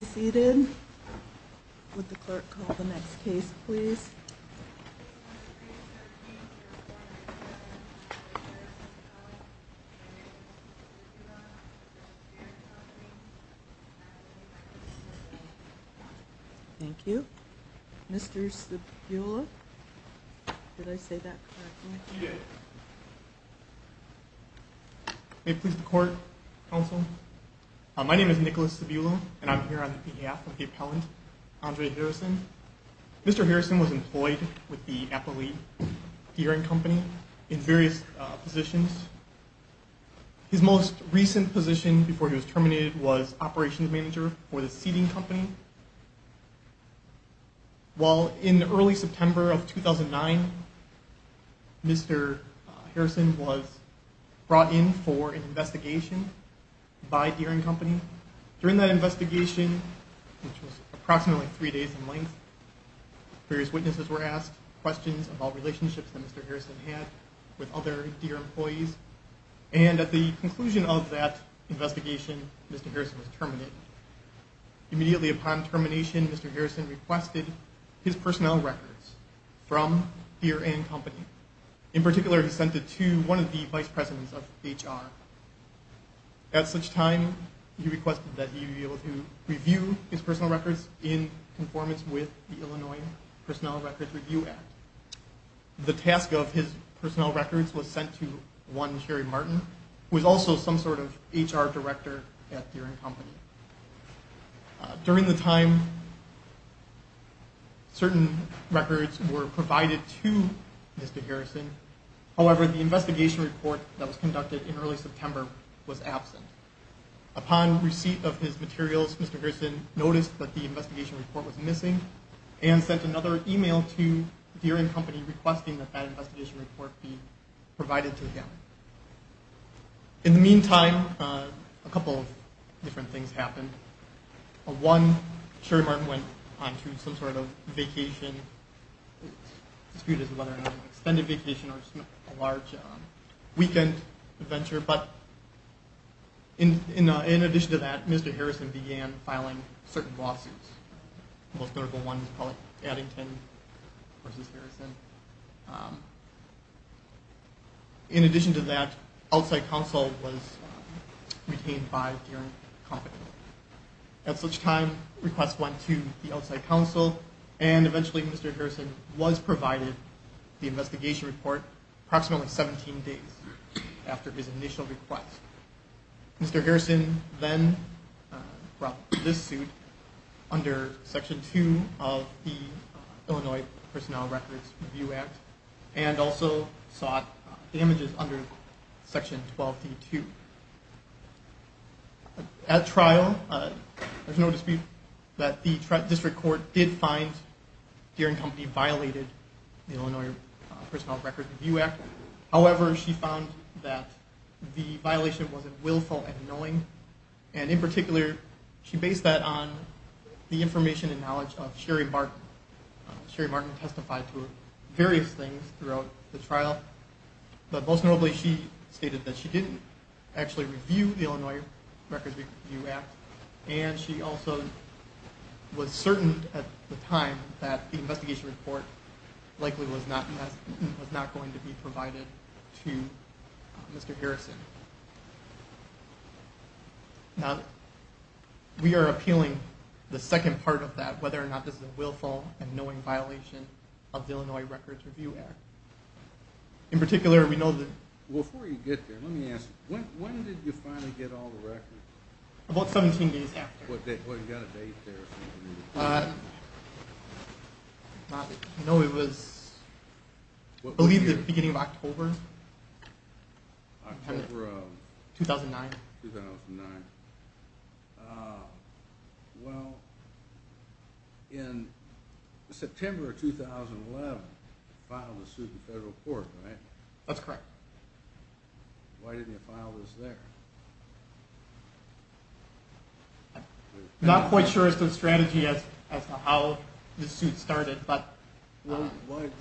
Please be seated. Would the clerk call the next case, please? Thank you. Mr. Cebula? Did I say that correctly? You did. May it please the Court, Counsel? My name is Nicholas Cebula, and I'm here on behalf of the appellant, Andre Harrison. Mr. Harrison was employed with the Appellee Deere & Company in various positions. His most recent position before he was terminated was operations manager for the seating company. While in early September of 2009, Mr. Harrison was brought in for an investigation by Deere & Company. During that investigation, which was approximately three days in length, various witnesses were asked questions about relationships that Mr. Harrison had with other Deere employees. And at the conclusion of that investigation, Mr. Harrison was terminated. Immediately upon termination, Mr. Harrison requested his personnel records from Deere & Company. In particular, he sent it to one of the vice presidents of HR. At such time, he requested that he be able to review his personal records in conformance with the Illinois Personnel Records Review Act. The task of his personnel records was sent to one Sherry Martin, who was also some sort of HR director at Deere & Company. During the time certain records were provided to Mr. Harrison, however, the investigation report that was conducted in early September was absent. Upon receipt of his materials, Mr. Harrison noticed that the investigation report was missing and sent another email to Deere & Company requesting that that investigation report be provided to him. In the meantime, a couple of different things happened. One, Sherry Martin went on to some sort of vacation. It's disputed whether it was an extended vacation or a large weekend adventure, but in addition to that, Mr. Harrison began filing certain lawsuits. The most notable one was Pollack-Addington v. Harrison. In addition to that, outside counsel was retained by Deere & Company. At such time, requests went to the outside counsel, and eventually Mr. Harrison was provided the investigation report approximately 17 days after his initial request. Mr. Harrison then brought this suit under Section 2 of the Illinois Personnel Records Review Act and also sought damages under Section 12d-2. At trial, there's no dispute that the district court did find Deere & Company violated the Illinois Personnel Records Review Act. However, she found that the violation wasn't willful and annoying, and in particular, she based that on the information and knowledge of Sherry Martin. Sherry Martin testified to various things throughout the trial, but most notably, she stated that she didn't actually review the Illinois Records Review Act, and she also was certain at the time that the investigation report likely was not going to be provided to Mr. Harrison. Now, we are appealing the second part of that, whether or not this is a willful and annoying violation of the Illinois Records Review Act. In particular, we know that – Before you get there, let me ask you, when did you finally get all the records? About 17 days after. Well, you've got a date there. No, it was I believe the beginning of October. October of? 2009. 2009. Well, in September of 2011, you filed a suit in federal court, right? That's correct. Why didn't you file this there? I'm not quite sure as to the strategy as to how the suit started, but – So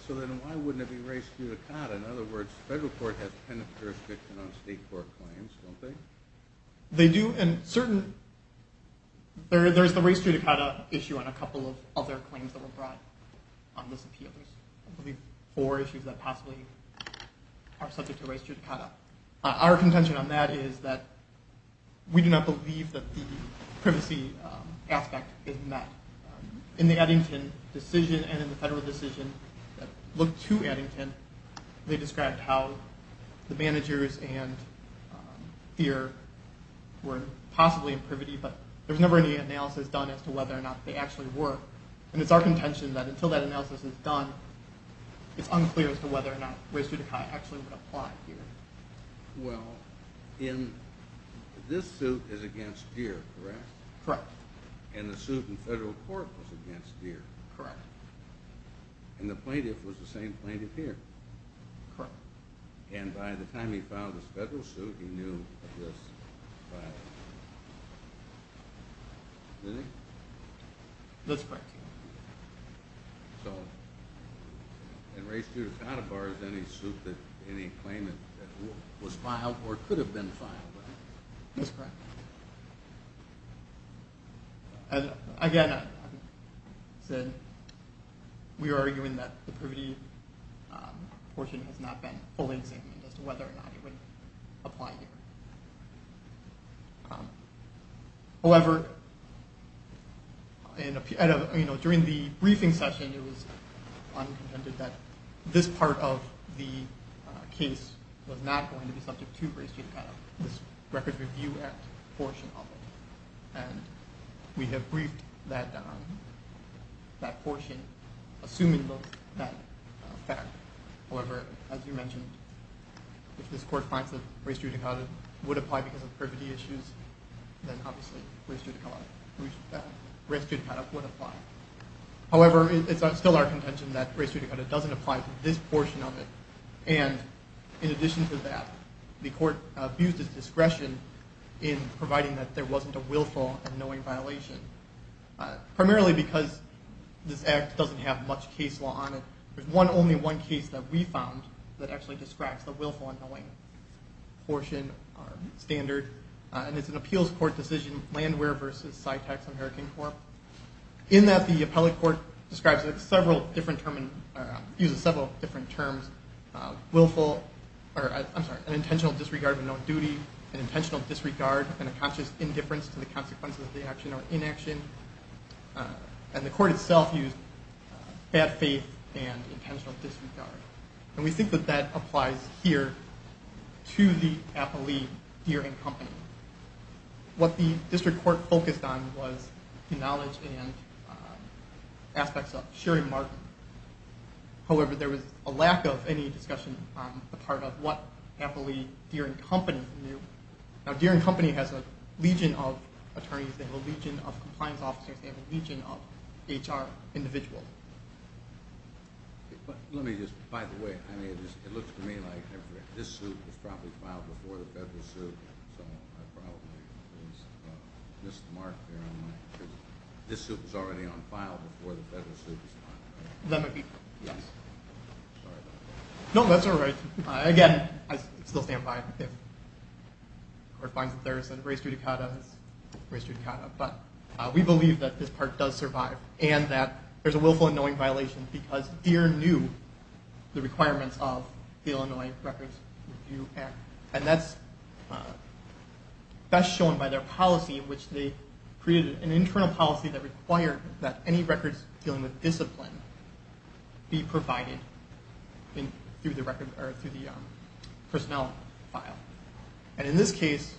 then why wouldn't it be raised through the court? In other words, the federal court has penitentiary jurisdiction on state court claims, don't they? They do, and certain – There's the race judicata issue on a couple of other claims that were brought on this appeal. There's I believe four issues that possibly are subject to race judicata. Our contention on that is that we do not believe that the privacy aspect is met. In the Eddington decision and in the federal decision that looked to Eddington, they described how the managers and Deere were possibly in privity, but there was never any analysis done as to whether or not they actually were. And it's our contention that until that analysis is done, it's unclear as to whether or not race judicata actually would apply here. Well, this suit is against Deere, correct? Correct. And the suit in federal court was against Deere? Correct. And the plaintiff was the same plaintiff here? Correct. And by the time he filed this federal suit, he knew that this was filed? Did he? That's correct. So in race judicata, as far as any suit that – any claim that was filed or could have been filed, right? That's correct. Again, we are arguing that the privity portion has not been fully examined as to whether or not it would apply here. However, during the briefing session, it was contended that this part of the case was not going to be subject to race judicata. This record review portion of it. And we have briefed that portion, assuming that fact. However, as you mentioned, if this court finds that race judicata would apply because of privity issues, then obviously race judicata would apply. However, it's still our contention that race judicata doesn't apply to this portion of it. And in addition to that, the court abused its discretion in providing that there wasn't a willful and knowing violation. Primarily because this act doesn't have much case law on it. There's only one case that we found that actually describes the willful and knowing portion standard, and it's an appeals court decision, Landwehr v. Sytax American Corp. In that the appellate court uses several different terms. Willful, or I'm sorry, an intentional disregard of a known duty, an intentional disregard and a conscious indifference to the consequences of the action or inaction. And the court itself used bad faith and intentional disregard. And we think that that applies here to the appellee Deering Company. What the district court focused on was the knowledge and aspects of Sherry Martin. However, there was a lack of any discussion on the part of what appellee Deering Company knew. Now, Deering Company has a legion of attorneys. They have a legion of compliance officers. They have a legion of HR individuals. Let me just, by the way, it looks to me like this suit was probably filed before the federal suit. So I probably missed the mark here. This suit was already on file before the federal suit was filed. That might be, yes. Sorry about that. No, that's all right. Again, I still stand by it. If the court finds that there is a race judicata, it's a race judicata. But we believe that this part does survive and that there's a willful and knowing violation because Deering knew the requirements of the Illinois Records Review Act. And that's best shown by their policy in which they created an internal policy that required that any records dealing with discipline be provided through the personnel file. And in this case,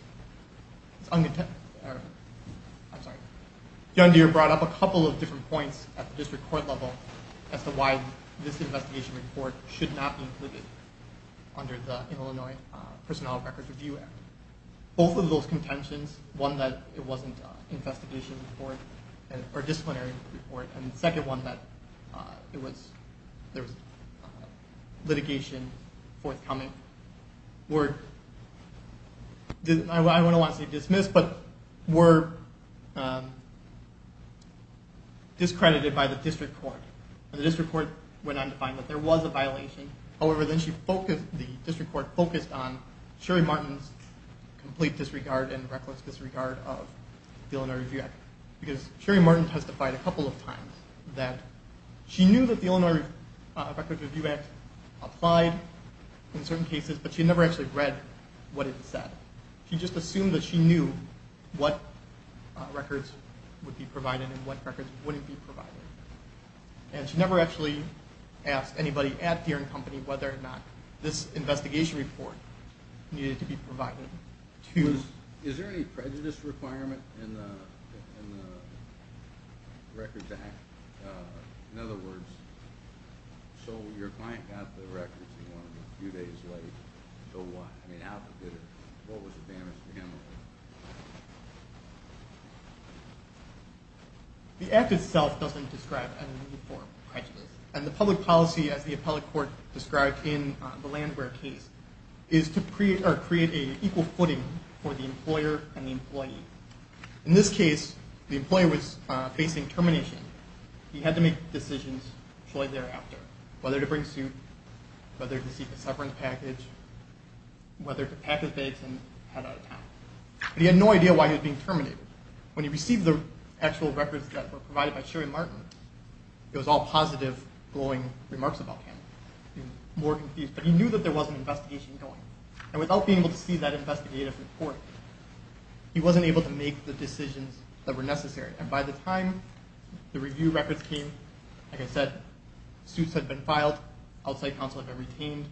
it's unintended. I'm sorry. John Deere brought up a couple of different points at the district court level as to why this investigation report should not be included under the Illinois Personnel Records Review Act. Both of those contentions, one that it wasn't an investigation report or disciplinary report, and the second one that there was litigation forthcoming, were, I don't want to say dismissed, but were discredited by the district court. And the district court went on to find that there was a violation. However, the district court focused on Sherry Martin's complete disregard and reckless disregard of the Illinois Review Act because Sherry Martin testified a couple of times that she knew that the Illinois Records Review Act applied in certain cases, but she never actually read what it said. She just assumed that she knew what records would be provided and what records wouldn't be provided. And she never actually asked anybody at Deere and Company whether or not this investigation report needed to be provided. Is there any prejudice requirement in the Records Act? In other words, so your client got the records a few days late, so what? I mean, what was the damage to him? The Act itself doesn't describe any form of prejudice. And the public policy, as the appellate court described in the Landware case, is to create an equal footing for the employer and the employee. In this case, the employer was facing termination. He had to make decisions shortly thereafter, whether to bring suit, whether to seek a severance package, whether to pack his bags and head out of town. But he had no idea why he was being terminated. When he received the actual records that were provided by Sherry Martin, it was all positive, glowing remarks about him. He was more confused, but he knew that there was an investigation going. And without being able to see that investigative report, he wasn't able to make the decisions that were necessary. And by the time the review records came, like I said, suits had been filed, outside counsel had been retained,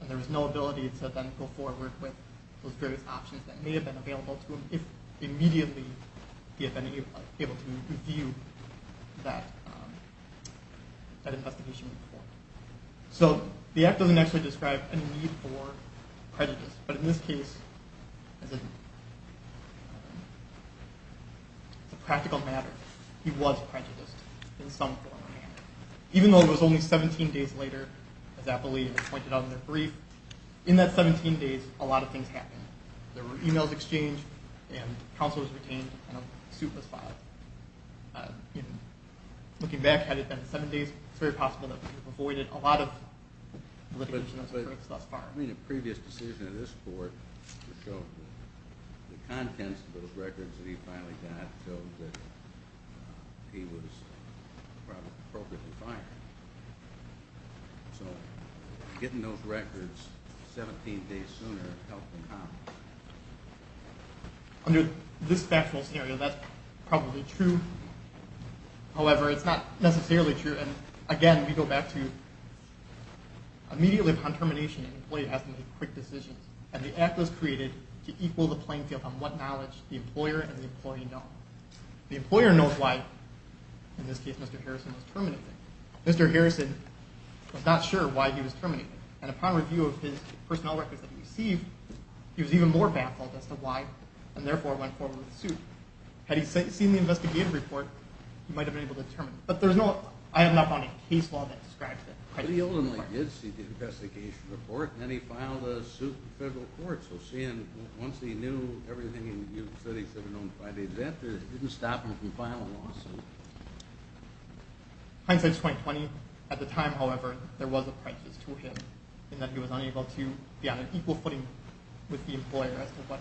and there was no ability to then go forward with those various options that may have been available to him if immediately he had been able to review that investigation report. So the act doesn't actually describe a need for prejudice. But in this case, it's a practical matter. He was prejudiced in some form or manner. Even though it was only 17 days later, as appellate leaders pointed out in their brief, in that 17 days, a lot of things happened. There were emails exchanged, and counsel was retained, and a suit was filed. Looking back, had it been seven days, it's very possible that we would have avoided a lot of litigation. But in a previous decision of this Court, the contents of those records that he finally got showed that he was probably appropriately fired. So getting those records 17 days sooner helped him how? Under this factual scenario, that's probably true. However, it's not necessarily true. And again, we go back to immediately upon termination, an employee has to make quick decisions. And the act was created to equal the playing field on what knowledge the employer and the employee know. The employer knows why, in this case, Mr. Harrison was terminated. Mr. Harrison was not sure why he was terminated. And upon review of his personnel records that he received, he was even more baffled as to why, and therefore went forward with the suit. Had he seen the investigative report, he might have been able to determine. But I have not found a case law that describes it. But he ultimately did see the investigation report, and then he filed a suit in federal court. So once he knew everything that he said he should have known by the event, it didn't stop him from filing a lawsuit. Hindsight is 20-20. At the time, however, there was a crisis to him, in that he was unable to be on an equal footing with the employer as to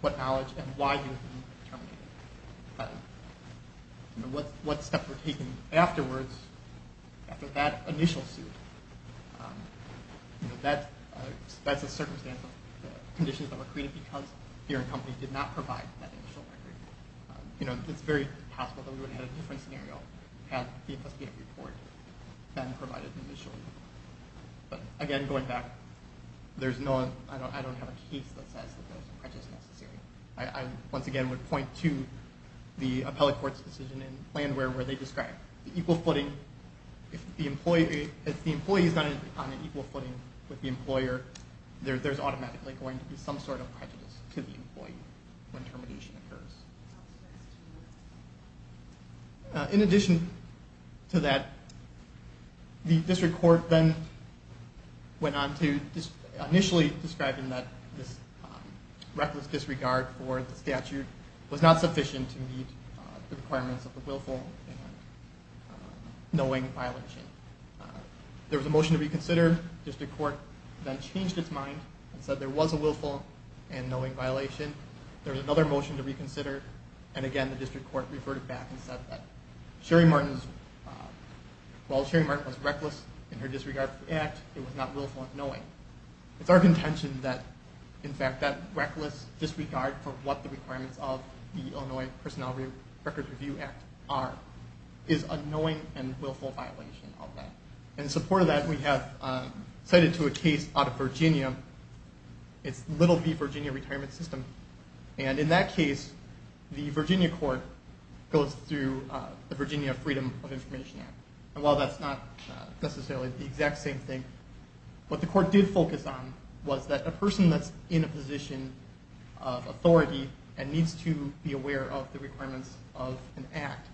what knowledge and why he was terminated. What steps were taken afterwards after that initial suit? That's a circumstance of conditions that were created because fear and company did not provide that initial record. It's very possible that we would have had a different scenario had the investigative report been provided initially. But again, going back, I don't have a case that says that there was a crisis necessary. I, once again, would point to the appellate court's decision in land where they described the equal footing. If the employee is not on an equal footing with the employer, there's automatically going to be some sort of prejudice to the employee when termination occurs. In addition to that, the district court then went on to initially describe that this reckless disregard for the statute was not sufficient to meet the requirements of the willful and knowing violation. There was a motion to reconsider. The district court then changed its mind and said there was a willful and knowing violation. There was another motion to reconsider. And again, the district court referred it back and said that while Sherry Martin was reckless in her disregard for the act, it was not willful and knowing. It's our contention that, in fact, that reckless disregard for what the requirements of the Illinois Personnel Records Review Act are is a knowing and willful violation of that. In support of that, we have cited to a case out of Virginia. It's little v. Virginia Retirement System. And in that case, the Virginia court goes through the Virginia Freedom of Information Act. And while that's not necessarily the exact same thing, what the court did focus on was that a person that's in a position of authority and needs to be aware of the requirements of an act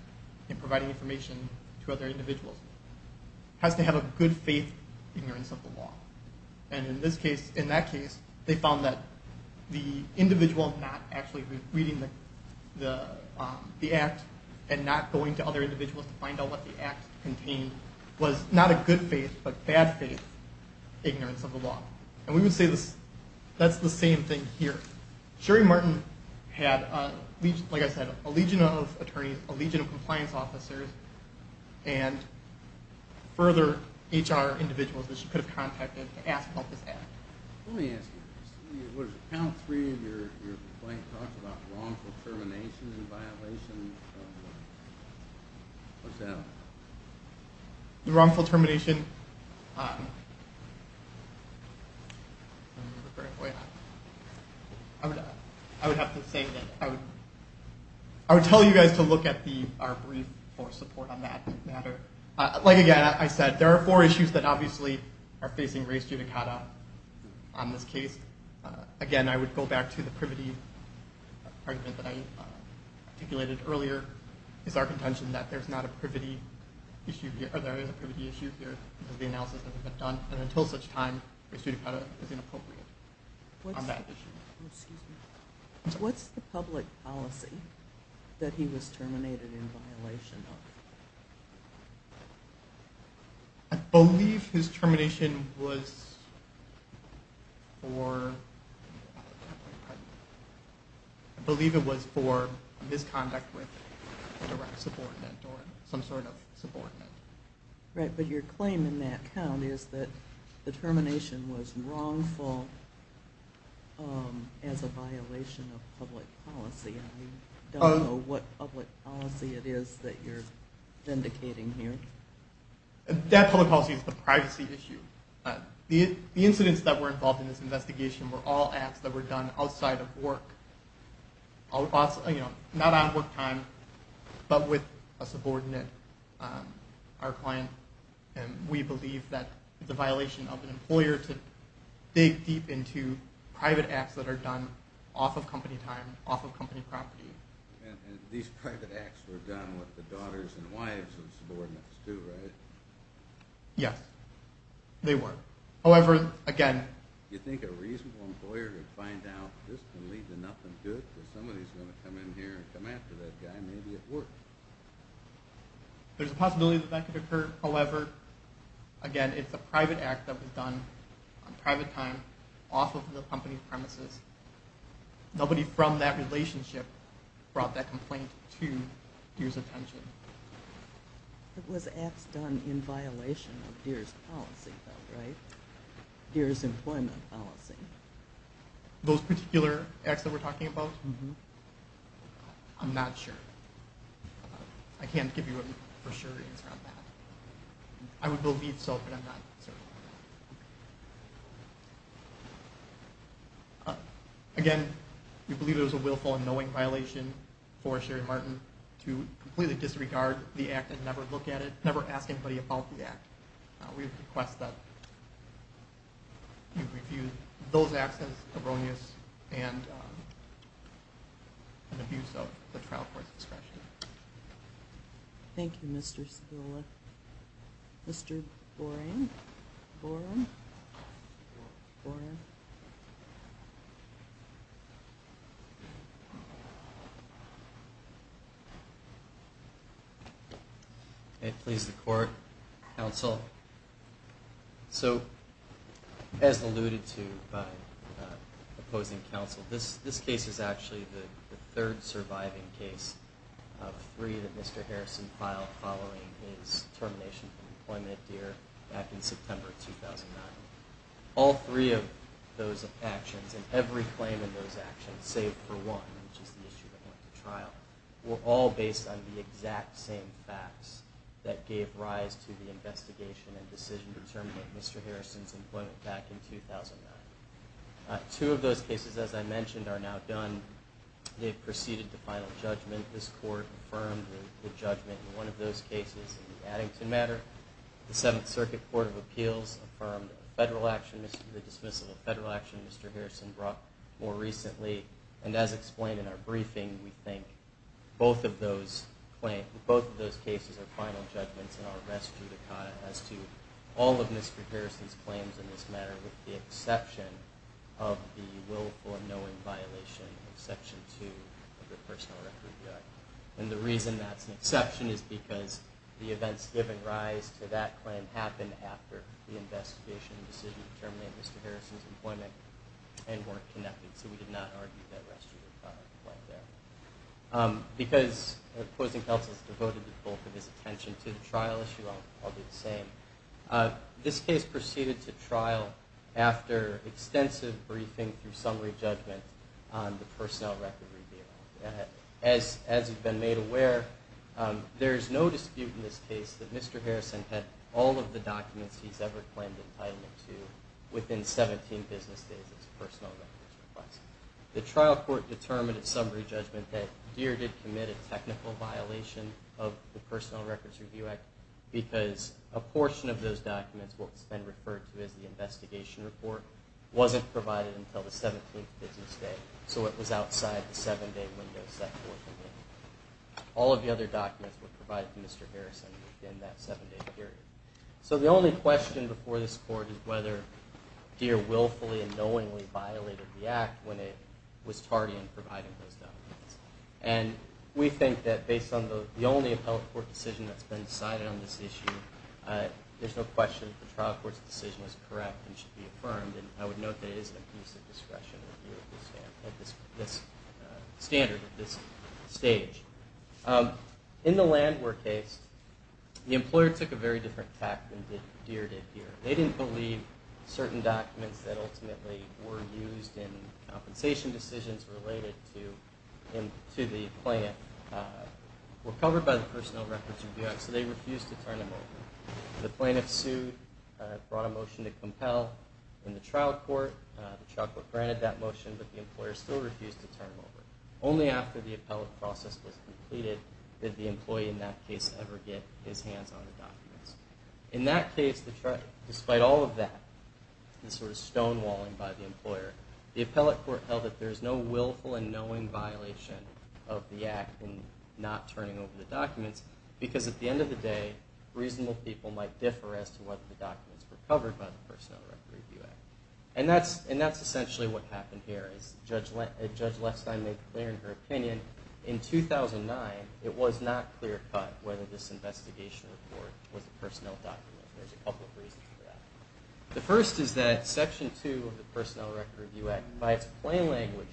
in providing information to other individuals has to have a good faith ignorance of the law. And in that case, they found that the individual not actually reading the act and not going to other individuals to find out what the act contained was not a good faith but bad faith ignorance of the law. And we would say that's the same thing here. Sherry Martin had, like I said, a legion of attorneys, a legion of compliance officers, and further HR individuals that she could have contacted to ask about this act. Let me ask you this. What is it, panel three of your complaint talks about wrongful termination and violation. What's that? The wrongful termination, I would have to say that I would tell you guys to look at our brief for support on that matter. Like I said, there are four issues that obviously are facing race judicata on this case. Again, I would go back to the privity argument that I articulated earlier. It's our contention that there's not a privity issue here, or there is a privity issue here. The analysis hasn't been done, and until such time, race judicata is inappropriate on that issue. What's the public policy that he was terminated in violation of? I believe his termination was for misconduct with direct subordinate or some sort of subordinate. Right, but your claim in that count is that the termination was wrongful as a violation of public policy. I don't know what public policy it is that you're vindicating here. That public policy is the privacy issue. The incidents that were involved in this investigation were all acts that were done outside of work. Not on work time, but with a subordinate, our client. We believe that it's a violation of an employer to dig deep into private acts that are done off of company time, off of company property. These private acts were done with the daughters and wives of subordinates too, right? Yes, they were. You think a reasonable employer would find out this can lead to nothing good? Somebody's going to come in here and come after that guy, maybe it worked. There's a possibility that that could occur. However, again, it's a private act that was done on private time, off of the company premises. Nobody from that relationship brought that complaint to Deere's attention. It was acts done in violation of Deere's policy though, right? Deere's employment policy. Those particular acts that we're talking about? I'm not sure. I can't give you a for sure answer on that. I would believe so, but I'm not certain. Again, we believe it was a willful and knowing violation for Sherry Martin to completely disregard the act and never look at it, never ask anybody about the act. We request that you review those acts as erroneous and an abuse of the trial court's discretion. Thank you, Mr. Sibula. Mr. Boren? Boren? Boren? Please, the court, counsel. So, as alluded to by opposing counsel, this case is actually the third surviving case of three that Mr. Harrison filed following his termination from employment at Deere back in September 2009. All three of those actions and every claim in those actions, save for one, which is the issue that went to trial, were all based on the exact same facts that gave rise to the investigation and decision to terminate Mr. Harrison's employment back in 2009. Two of those cases, as I mentioned, are now done. They've proceeded to final judgment. This court affirmed the judgment in one of those cases in the Addington matter. The Seventh Circuit Court of Appeals affirmed the dismissal of federal action Mr. Harrison brought more recently. And as explained in our briefing, we think both of those cases are final judgments in our rest judicata as to all of Mr. Harrison's claims in this matter, with the exception of the willful and knowing violation of Section 2 of the Personal Record Act. And the reason that's an exception is because the events given rise to that claim happened after the investigation and decision to terminate Mr. Harrison's employment and weren't connected, so we did not argue that rest judicata right there. Because opposing counsel has devoted the bulk of his attention to the trial issue, I'll do the same. This case proceeded to trial after extensive briefing through summary judgment on the personnel record review. As you've been made aware, there's no dispute in this case that Mr. Harrison had all of the documents he's ever claimed entitlement to within 17 business days of his personal records request. The trial court determined in summary judgment that Deere did commit a technical violation of the Personal Records Review Act because a portion of those documents, what's been referred to as the investigation report, wasn't provided until the 17th business day. So it was outside the seven-day window set forth in the Act. All of the other documents were provided to Mr. Harrison within that seven-day period. So the only question before this Court is whether Deere willfully and knowingly violated the Act when it was tardy in providing those documents. And we think that based on the only appellate court decision that's been decided on this issue, there's no question that the trial court's decision was correct and should be affirmed. And I would note that it is an abuse of discretion at this standard, at this stage. In the Landwar case, the employer took a very different tact than Deere did here. They didn't believe certain documents that ultimately were used in compensation decisions related to the plant were covered by the Personnel Records Review Act. So they refused to turn them over. The plaintiff sued, brought a motion to compel. In the trial court, the trial court granted that motion, but the employer still refused to turn them over. Only after the appellate process was completed did the employee in that case ever get his hands on the documents. In that case, despite all of that, the sort of stonewalling by the employer, the appellate court held that there's no willful and knowing violation of the Act in not turning over the documents because at the end of the day, reasonable people might differ as to whether the documents were covered by the Personnel Records Review Act. And that's essentially what happened here. As Judge Lepstein made clear in her opinion, in 2009, it was not clear cut whether this investigation report was a personnel document. There's a couple of reasons for that. The first is that Section 2 of the Personnel Records Review Act, by its plain language,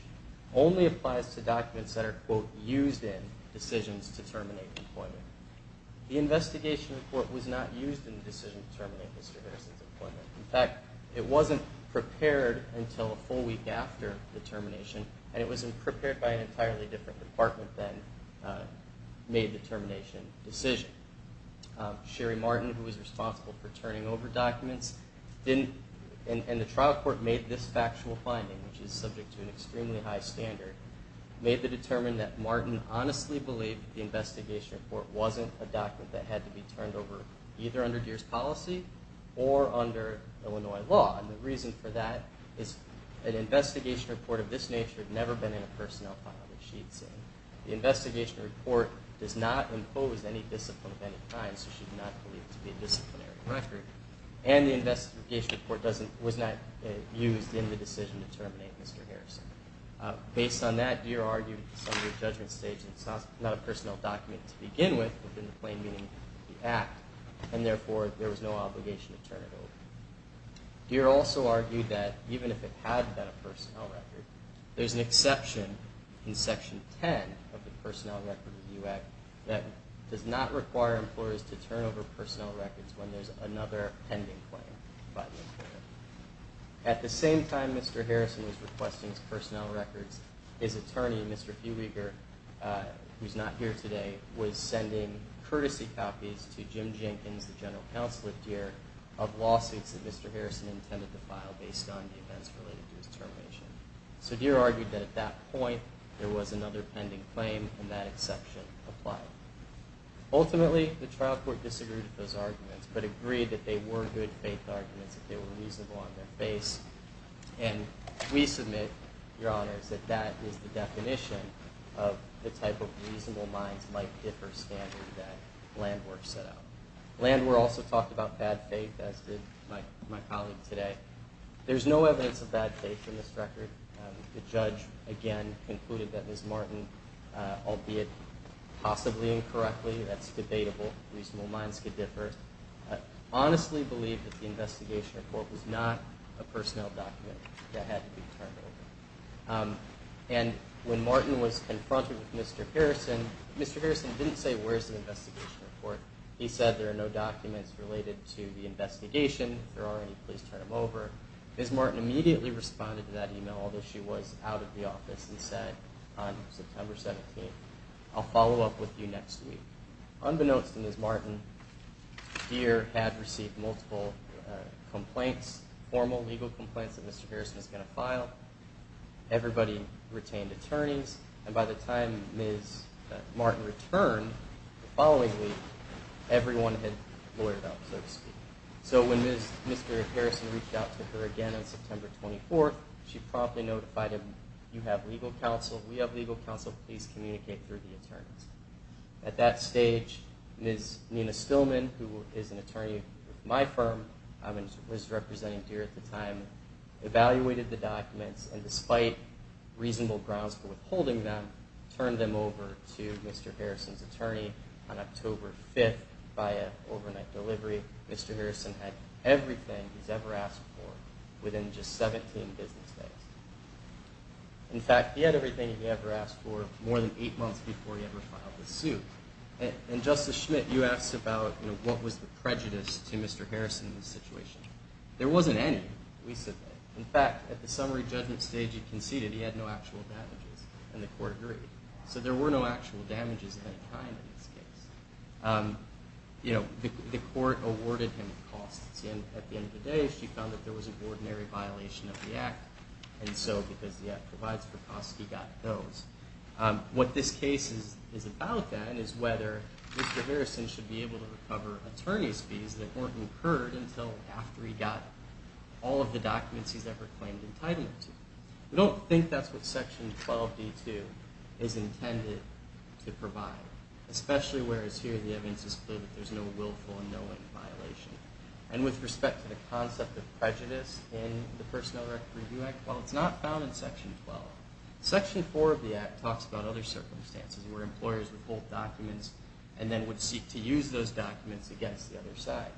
only applies to documents that are, quote, used in decisions to terminate employment. The investigation report was not used in the decision to terminate Mr. Harrison's employment. In fact, it wasn't prepared until a full week after the termination, and it was prepared by an entirely different department than made the termination decision. Sherry Martin, who was responsible for turning over documents, didn't, and the trial court made this factual finding, which is subject to an extremely high standard, made the determination that Martin honestly believed the investigation report wasn't a document that had to be turned over, either under Deere's policy or under Illinois law. And the reason for that is an investigation report of this nature had never been in a personnel file, as she had said. The investigation report does not impose any discipline of any kind, so she did not believe it to be a disciplinary record. And the investigation report was not used in the decision to terminate Mr. Harrison. Based on that, Deere argued that it's under a judgment stage, and it's not a personnel document to begin with, within the plain meaning of the Act, and therefore there was no obligation to turn it over. Deere also argued that even if it had been a personnel record, there's an exception in Section 10 of the Personnel Records Review Act that does not require employers to turn over personnel records when there's another pending claim by the employer. At the same time Mr. Harrison was requesting his personnel records, his attorney, Mr. Hueberger, who's not here today, was sending courtesy copies to Jim Jenkins, the general counsel at Deere, of lawsuits that Mr. Harrison intended to file based on the events related to his termination. So Deere argued that at that point there was another pending claim, and that exception applied. Ultimately, the trial court disagreed with those arguments, but agreed that they were good faith arguments if they were reasonable on their face. And we submit, Your Honors, that that is the definition of the type of reasonable minds might differ standard that Landwer set out. Landwer also talked about bad faith, as did my colleague today. There's no evidence of bad faith in this record. The judge, again, concluded that Ms. Martin, albeit possibly incorrectly, that's debatable, reasonable minds could differ, honestly believed that the investigation report was not a personnel document that had to be turned over. And when Martin was confronted with Mr. Harrison, Mr. Harrison didn't say where's the investigation report. He said there are no documents related to the investigation. If there are any, please turn them over. Ms. Martin immediately responded to that email, although she was out of the office, and said on September 17th, I'll follow up with you next week. Unbeknownst to Ms. Martin, Deere had received multiple complaints, formal legal complaints, that Mr. Harrison was going to file. Everybody retained attorneys. And by the time Ms. Martin returned the following week, everyone had loitered up, so to speak. So when Mr. Harrison reached out to her again on September 24th, she promptly notified him, you have legal counsel, we have legal counsel, please communicate through the attorneys. At that stage, Ms. Nina Stillman, who is an attorney at my firm, was representing Deere at the time, evaluated the documents, and despite reasonable grounds for withholding them, turned them over to Mr. Harrison's attorney on October 5th via overnight delivery. Mr. Harrison had everything he's ever asked for within just 17 business days. In fact, he had everything he ever asked for more than eight months before he ever filed the suit. And Justice Schmidt, you asked about what was the prejudice to Mr. Harrison in this situation. There wasn't any. In fact, at the summary judgment stage he conceded he had no actual damages, and the court agreed. So there were no actual damages of any kind in this case. The court awarded him costs. At the end of the day, she found that there was an ordinary violation of the Act, and so because the Act provides for costs, he got those. What this case is about, then, is whether Mr. Harrison should be able to recover attorney's fees that weren't incurred until after he got all of the documents he's ever claimed entitlement to. We don't think that's what Section 12d.2 is intended to provide, especially whereas here the evidence is clear that there's no willful or knowing violation. And with respect to the concept of prejudice in the Personnel Record Review Act, while it's not found in Section 12, Section 4 of the Act talks about other circumstances where employers withhold documents and then would seek to use those documents against the other side.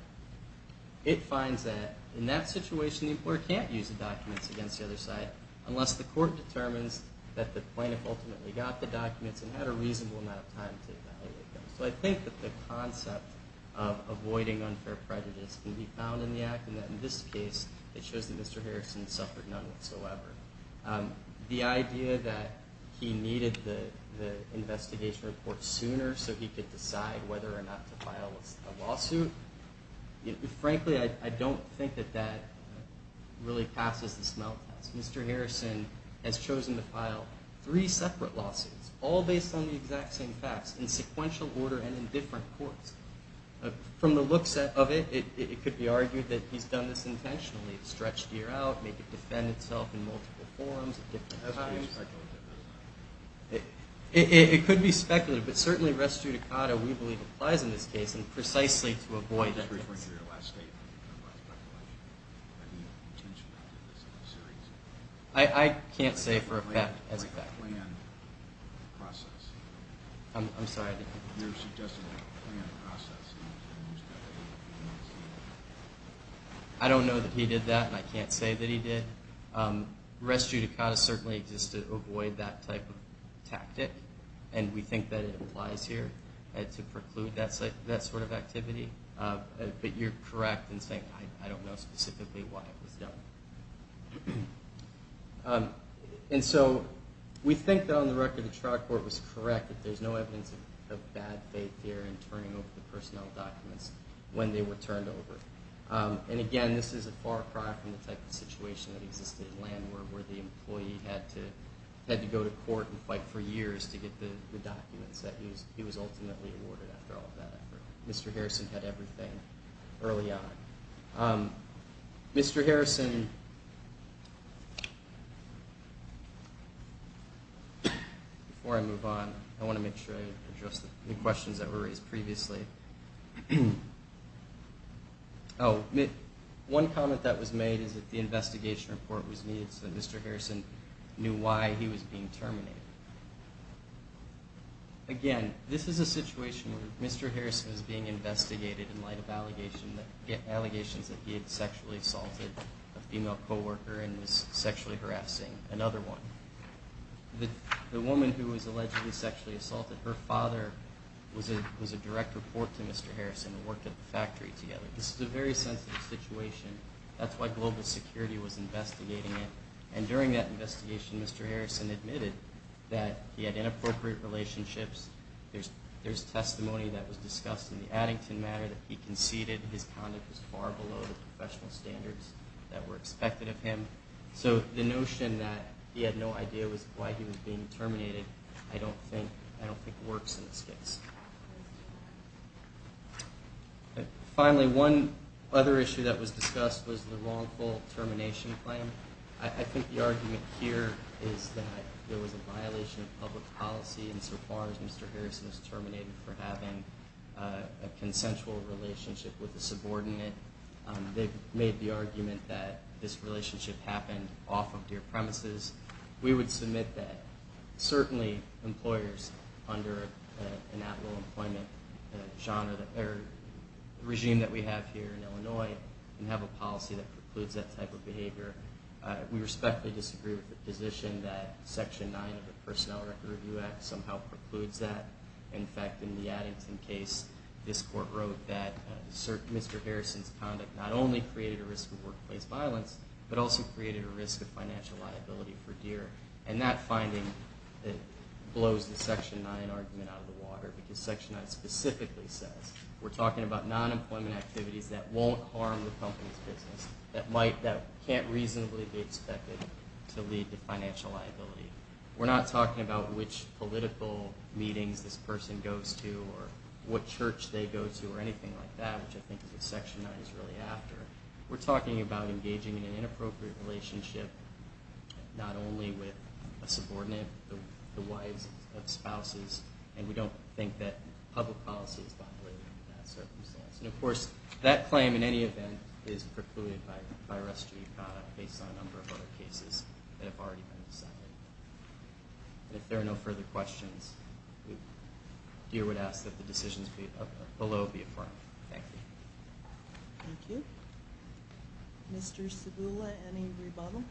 It finds that in that situation the employer can't use the documents against the other side unless the court determines that the plaintiff ultimately got the documents and had a reasonable amount of time to evaluate them. So I think that the concept of avoiding unfair prejudice can be found in the Act, and that in this case it shows that Mr. Harrison suffered none whatsoever. The idea that he needed the investigation report sooner so he could decide whether or not to file a lawsuit, frankly, I don't think that that really passes the smell test. Mr. Harrison has chosen to file three separate lawsuits, all based on the exact same facts, in sequential order and in different courts. From the looks of it, it could be argued that he's done this intentionally, stretched gear out, made it defend itself in multiple forums at different times. It could be speculative, but certainly res judicata, we believe, applies in this case, and precisely to avoid that case. I'm just referring to your last statement about speculation. I mean, intentionality is a serious issue. I can't say for a fact, as a fact. Like a planned process. I'm sorry. Your suggestion of a planned process. I don't know that he did that, and I can't say that he did. Res judicata certainly exists to avoid that type of tactic, and we think that it applies here to preclude that sort of activity. But you're correct in saying I don't know specifically why it was done. And so we think that on the record the trial court was correct, that there's no evidence of bad faith here in turning over the personnel documents when they were turned over. And, again, this is a far cry from the type of situation that existed in Landward, where the employee had to go to court and fight for years to get the documents that he was ultimately awarded after all of that effort. Mr. Harrison had everything early on. Mr. Harrison, before I move on, I want to make sure I address the questions that were raised previously. One comment that was made is that the investigation report was needed so that Mr. Harrison knew why he was being terminated. Again, this is a situation where Mr. Harrison is being investigated in light of allegations that he had sexually assaulted a female co-worker and was sexually harassing another one. The woman who was allegedly sexually assaulted, her father was a direct report to Mr. Harrison and worked at the factory together. This is a very sensitive situation. That's why global security was investigating it. And during that investigation, Mr. Harrison admitted that he had inappropriate relationships. There's testimony that was discussed in the Addington matter that he conceded his conduct was far below the professional standards that were expected of him. So the notion that he had no idea why he was being terminated, I don't think works in this case. Finally, one other issue that was discussed was the wrongful termination claim. I think the argument here is that there was a violation of public policy insofar as Mr. Harrison was terminated for having a consensual relationship with a subordinate. They've made the argument that this relationship happened off of their premises. We would submit that certainly employers under an at-will employment regime that we have here in Illinois can have a policy that precludes that type of behavior. We respectfully disagree with the position that Section 9 of the Personnel Record Review Act somehow precludes that. In fact, in the Addington case, this court wrote that Mr. Harrison's conduct not only created a risk of workplace violence, but also created a risk of financial liability for Deere. And that finding blows the Section 9 argument out of the water because Section 9 specifically says we're talking about non-employment activities that won't harm the company's business, that can't reasonably be expected to lead to financial liability. We're not talking about which political meetings this person goes to or what church they go to or anything like that, which I think is what Section 9 is really after. We're talking about engaging in an inappropriate relationship not only with a subordinate, but the wives of spouses. And we don't think that public policy is violated in that circumstance. And, of course, that claim, in any event, is precluded by restitution based on a number of other cases that have already been decided. If there are no further questions, Deere would ask that the decisions below be affirmed. Thank you. Thank you. Mr. Cibula, any rebuttal?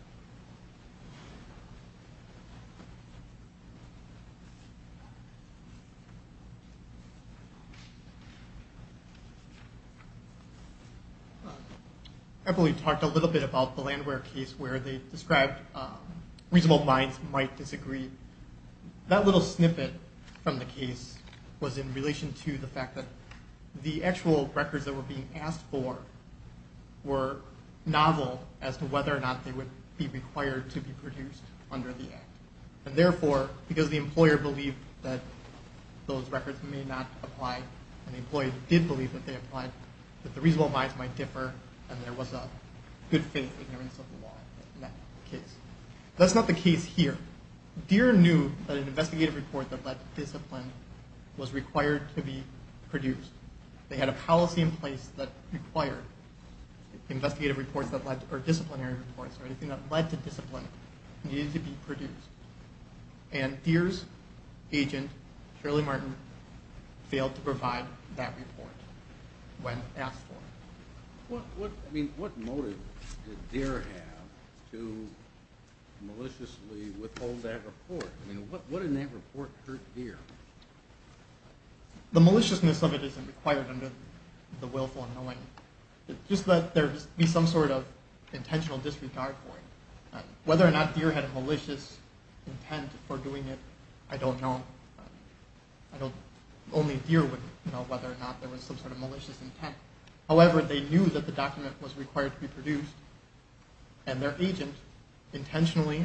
I believe we talked a little bit about the Landware case where they described reasonable minds might disagree. That little snippet from the case was in relation to the fact that the actual records that were being asked for were novel as to whether or not they would be required to be produced under the Act. And, therefore, because the employer believed that those records may not apply and the employee did believe that they applied, that the reasonable minds might differ, and there was a good faith ignorance of the law in that case. That's not the case here. Deere knew that an investigative report that led to discipline was required to be produced. They had a policy in place that required investigative reports or disciplinary reports or anything that led to discipline needed to be produced. And Deere's agent, Shirley Martin, failed to provide that report when asked for. What motive did Deere have to maliciously withhold that report? I mean, what in that report hurt Deere? The maliciousness of it isn't required under the willful unknowing. It's just that there would be some sort of intentional disregard for it. Whether or not Deere had a malicious intent for doing it, I don't know. Only Deere would know whether or not there was some sort of malicious intent. However, they knew that the document was required to be produced, and their agent intentionally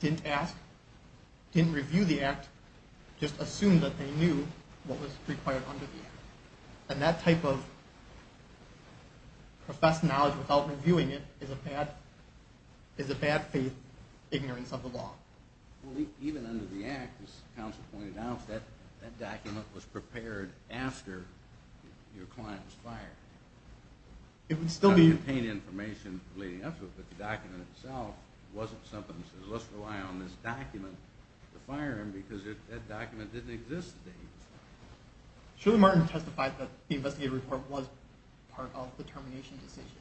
didn't ask, didn't review the Act, just assumed that they knew what was required under the Act. And that type of professed knowledge without reviewing it is a bad faith ignorance of the law. Even under the Act, as counsel pointed out, that document was prepared after your client was fired. It would still be... It would contain information leading up to it, but the document itself wasn't something that says, let's rely on this document to fire him because that document didn't exist then. Shirley Martin testified that the investigative report was part of the termination decision.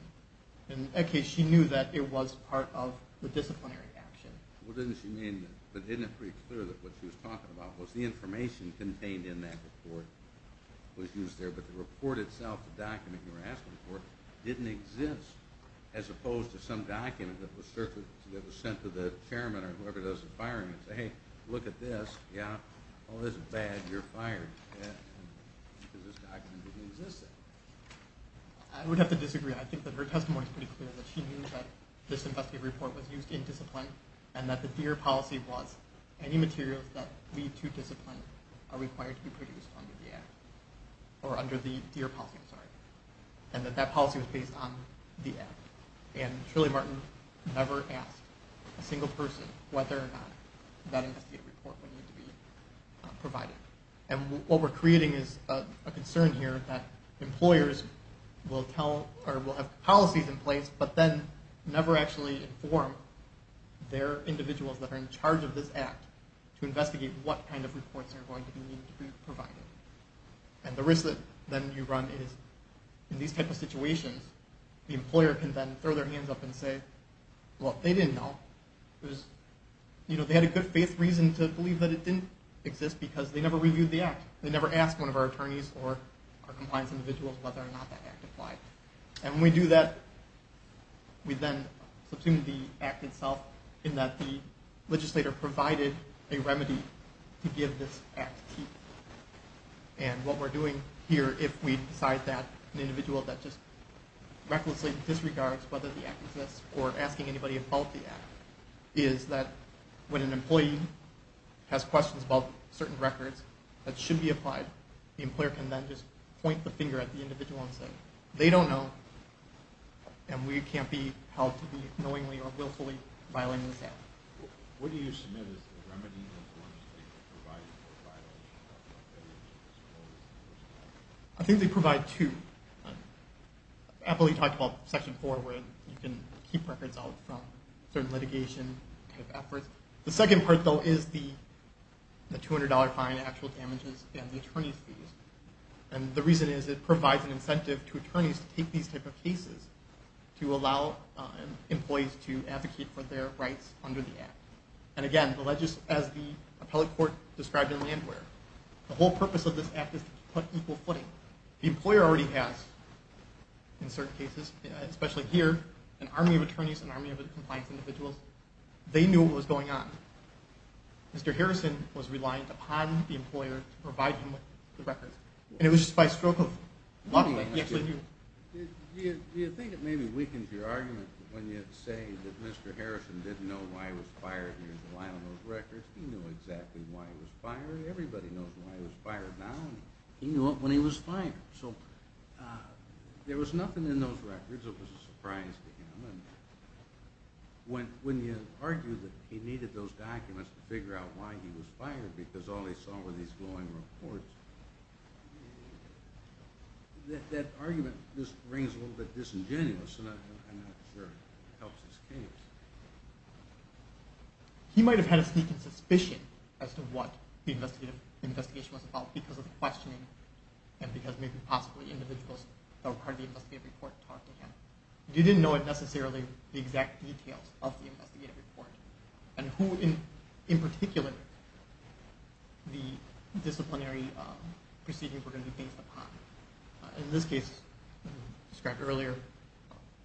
In that case, she knew that it was part of the disciplinary action. Well, didn't she mean that? But isn't it pretty clear that what she was talking about was the information contained in that report was used there, but the report itself, the document you were asking for, didn't exist, as opposed to some document that was sent to the chairman or whoever does the firing and say, hey, look at this. Yeah. Oh, this is bad. You're fired because this document didn't exist then. I would have to disagree. I think that her testimony is pretty clear that she knew that this investigative report was used in discipline and that the DEER policy was any materials that lead to discipline are required to be produced under the Act, or under the DEER policy, I'm sorry, and that that policy was based on the Act. And Shirley Martin never asked a single person whether or not that investigative report would need to be provided. And what we're creating is a concern here that employers will have policies in place but then never actually inform their individuals that are in charge of this Act to investigate what kind of reports are going to need to be provided. And the risk that then you run is, in these types of situations, the employer can then throw their hands up and say, well, they didn't know. They had a good faith reason to believe that it didn't exist because they never reviewed the Act. They never asked one of our attorneys or our compliance individuals whether or not that Act applied. And when we do that, we then subsume the Act itself in that the legislator provided a remedy to give this Act teeth. And what we're doing here, if we decide that an individual that just recklessly disregards whether the Act exists or asking anybody about the Act, is that when an employee has questions about certain records that should be applied, the employer can then just point the finger at the individual and say, they don't know, and we can't be held to be knowingly or willfully violating this Act. What do you submit as the remedy? Is it one that they provided or violated? I think they provide two. Appley talked about Section 4 where you can keep records out from certain litigation efforts. The second part, though, is the $200 fine, actual damages, and the attorney's fees. And the reason is it provides an incentive to attorneys to take these type of cases to allow employees to advocate for their rights under the Act. And again, as the appellate court described in Landware, the whole purpose of this Act is to put equal footing. So the employer already has, in certain cases, especially here, an army of attorneys, an army of compliance individuals. They knew what was going on. Mr. Harrison was reliant upon the employer to provide him with the records. And it was just by stroke of luck that he actually knew. Do you think it maybe weakens your argument when you say that Mr. Harrison didn't know why he was fired and he was reliant on those records? He knew exactly why he was fired. Everybody knows why he was fired now. He knew when he was fired. So there was nothing in those records. It was a surprise to him. When you argue that he needed those documents to figure out why he was fired because all he saw were these glowing reports, that argument just rings a little bit disingenuous, and I'm not sure it helps his case. He might have had a sneaking suspicion as to what the investigation was about because of the questioning and because maybe possibly individuals that were part of the investigative report talked to him. He didn't know necessarily the exact details of the investigative report and who in particular the disciplinary proceedings were going to be based upon. In this case, as I described earlier,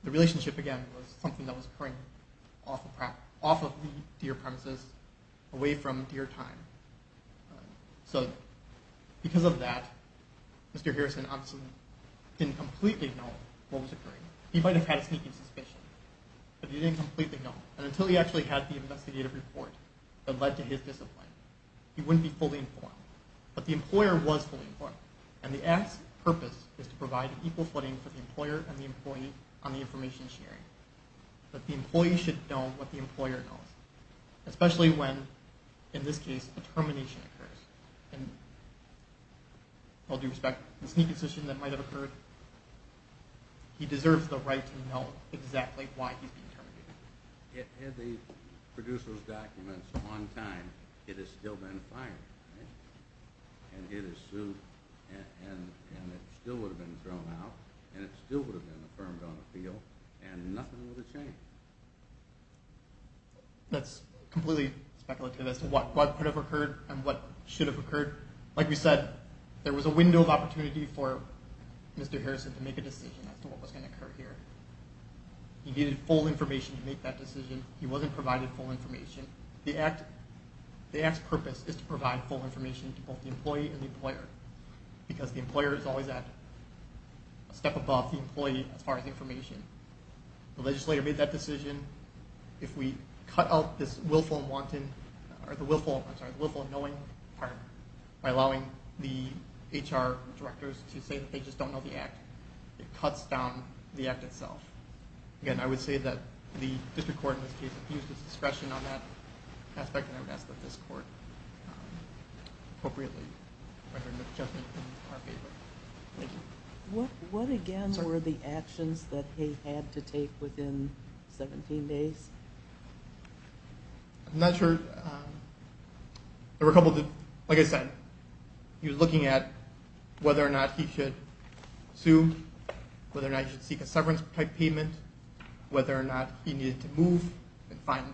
the relationship again was something that was occurring off of the Deere premises, away from Deere time. So because of that, Mr. Harrison obviously didn't completely know what was occurring. He might have had a sneaking suspicion, but he didn't completely know, and until he actually had the investigative report that led to his discipline, he wouldn't be fully informed. But the employer was fully informed, and the act's purpose is to provide equal footing for the employer and the employee on the information sharing. But the employee should know what the employer knows, especially when, in this case, a termination occurs. And with all due respect, the sneaking suspicion that might have occurred, he deserves the right to know exactly why he's being terminated. Had they produced those documents on time, it would still have been fine, and it still would have been thrown out, and it still would have been affirmed on the field, and nothing would have changed. That's completely speculative as to what could have occurred and what should have occurred. Like we said, there was a window of opportunity for Mr. Harrison to make a decision as to what was going to occur here. He needed full information to make that decision. He wasn't provided full information. The act's purpose is to provide full information to both the employee and the employer because the employer is always a step above the employee as far as information. The legislator made that decision. If we cut out this willful and knowing part by allowing the HR directors to say that they just don't know the act, it cuts down the act itself. Again, I would say that the district court, in this case, abused its discretion on that aspect, and I would ask that this court appropriately render an adjustment in our favor. Thank you. What, again, were the actions that he had to take within 17 days? I'm not sure. Like I said, he was looking at whether or not he should sue, whether or not he should seek a severance type payment, whether or not he needed to move and find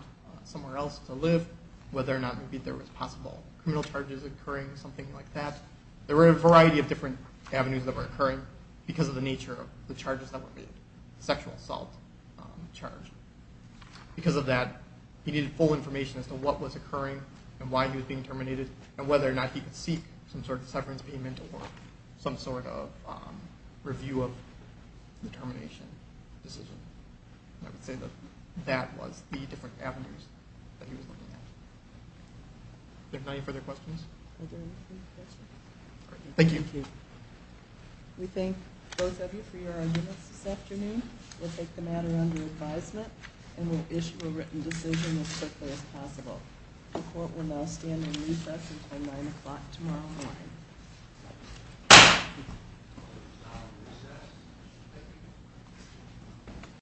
somewhere else to live, whether or not maybe there was possible criminal charges occurring, something like that. There were a variety of different avenues that were occurring because of the nature of the charges that were made, sexual assault charge. Because of that, he needed full information as to what was occurring and why he was being terminated and whether or not he could seek some sort of severance payment or some sort of review of the termination decision. I would say that that was the different avenues that he was looking at. Are there any further questions? Thank you. We thank both of you for your arguments this afternoon. We'll take the matter under advisement and we'll issue a written decision as quickly as possible. The court will now stand in recess until 9 o'clock tomorrow morning.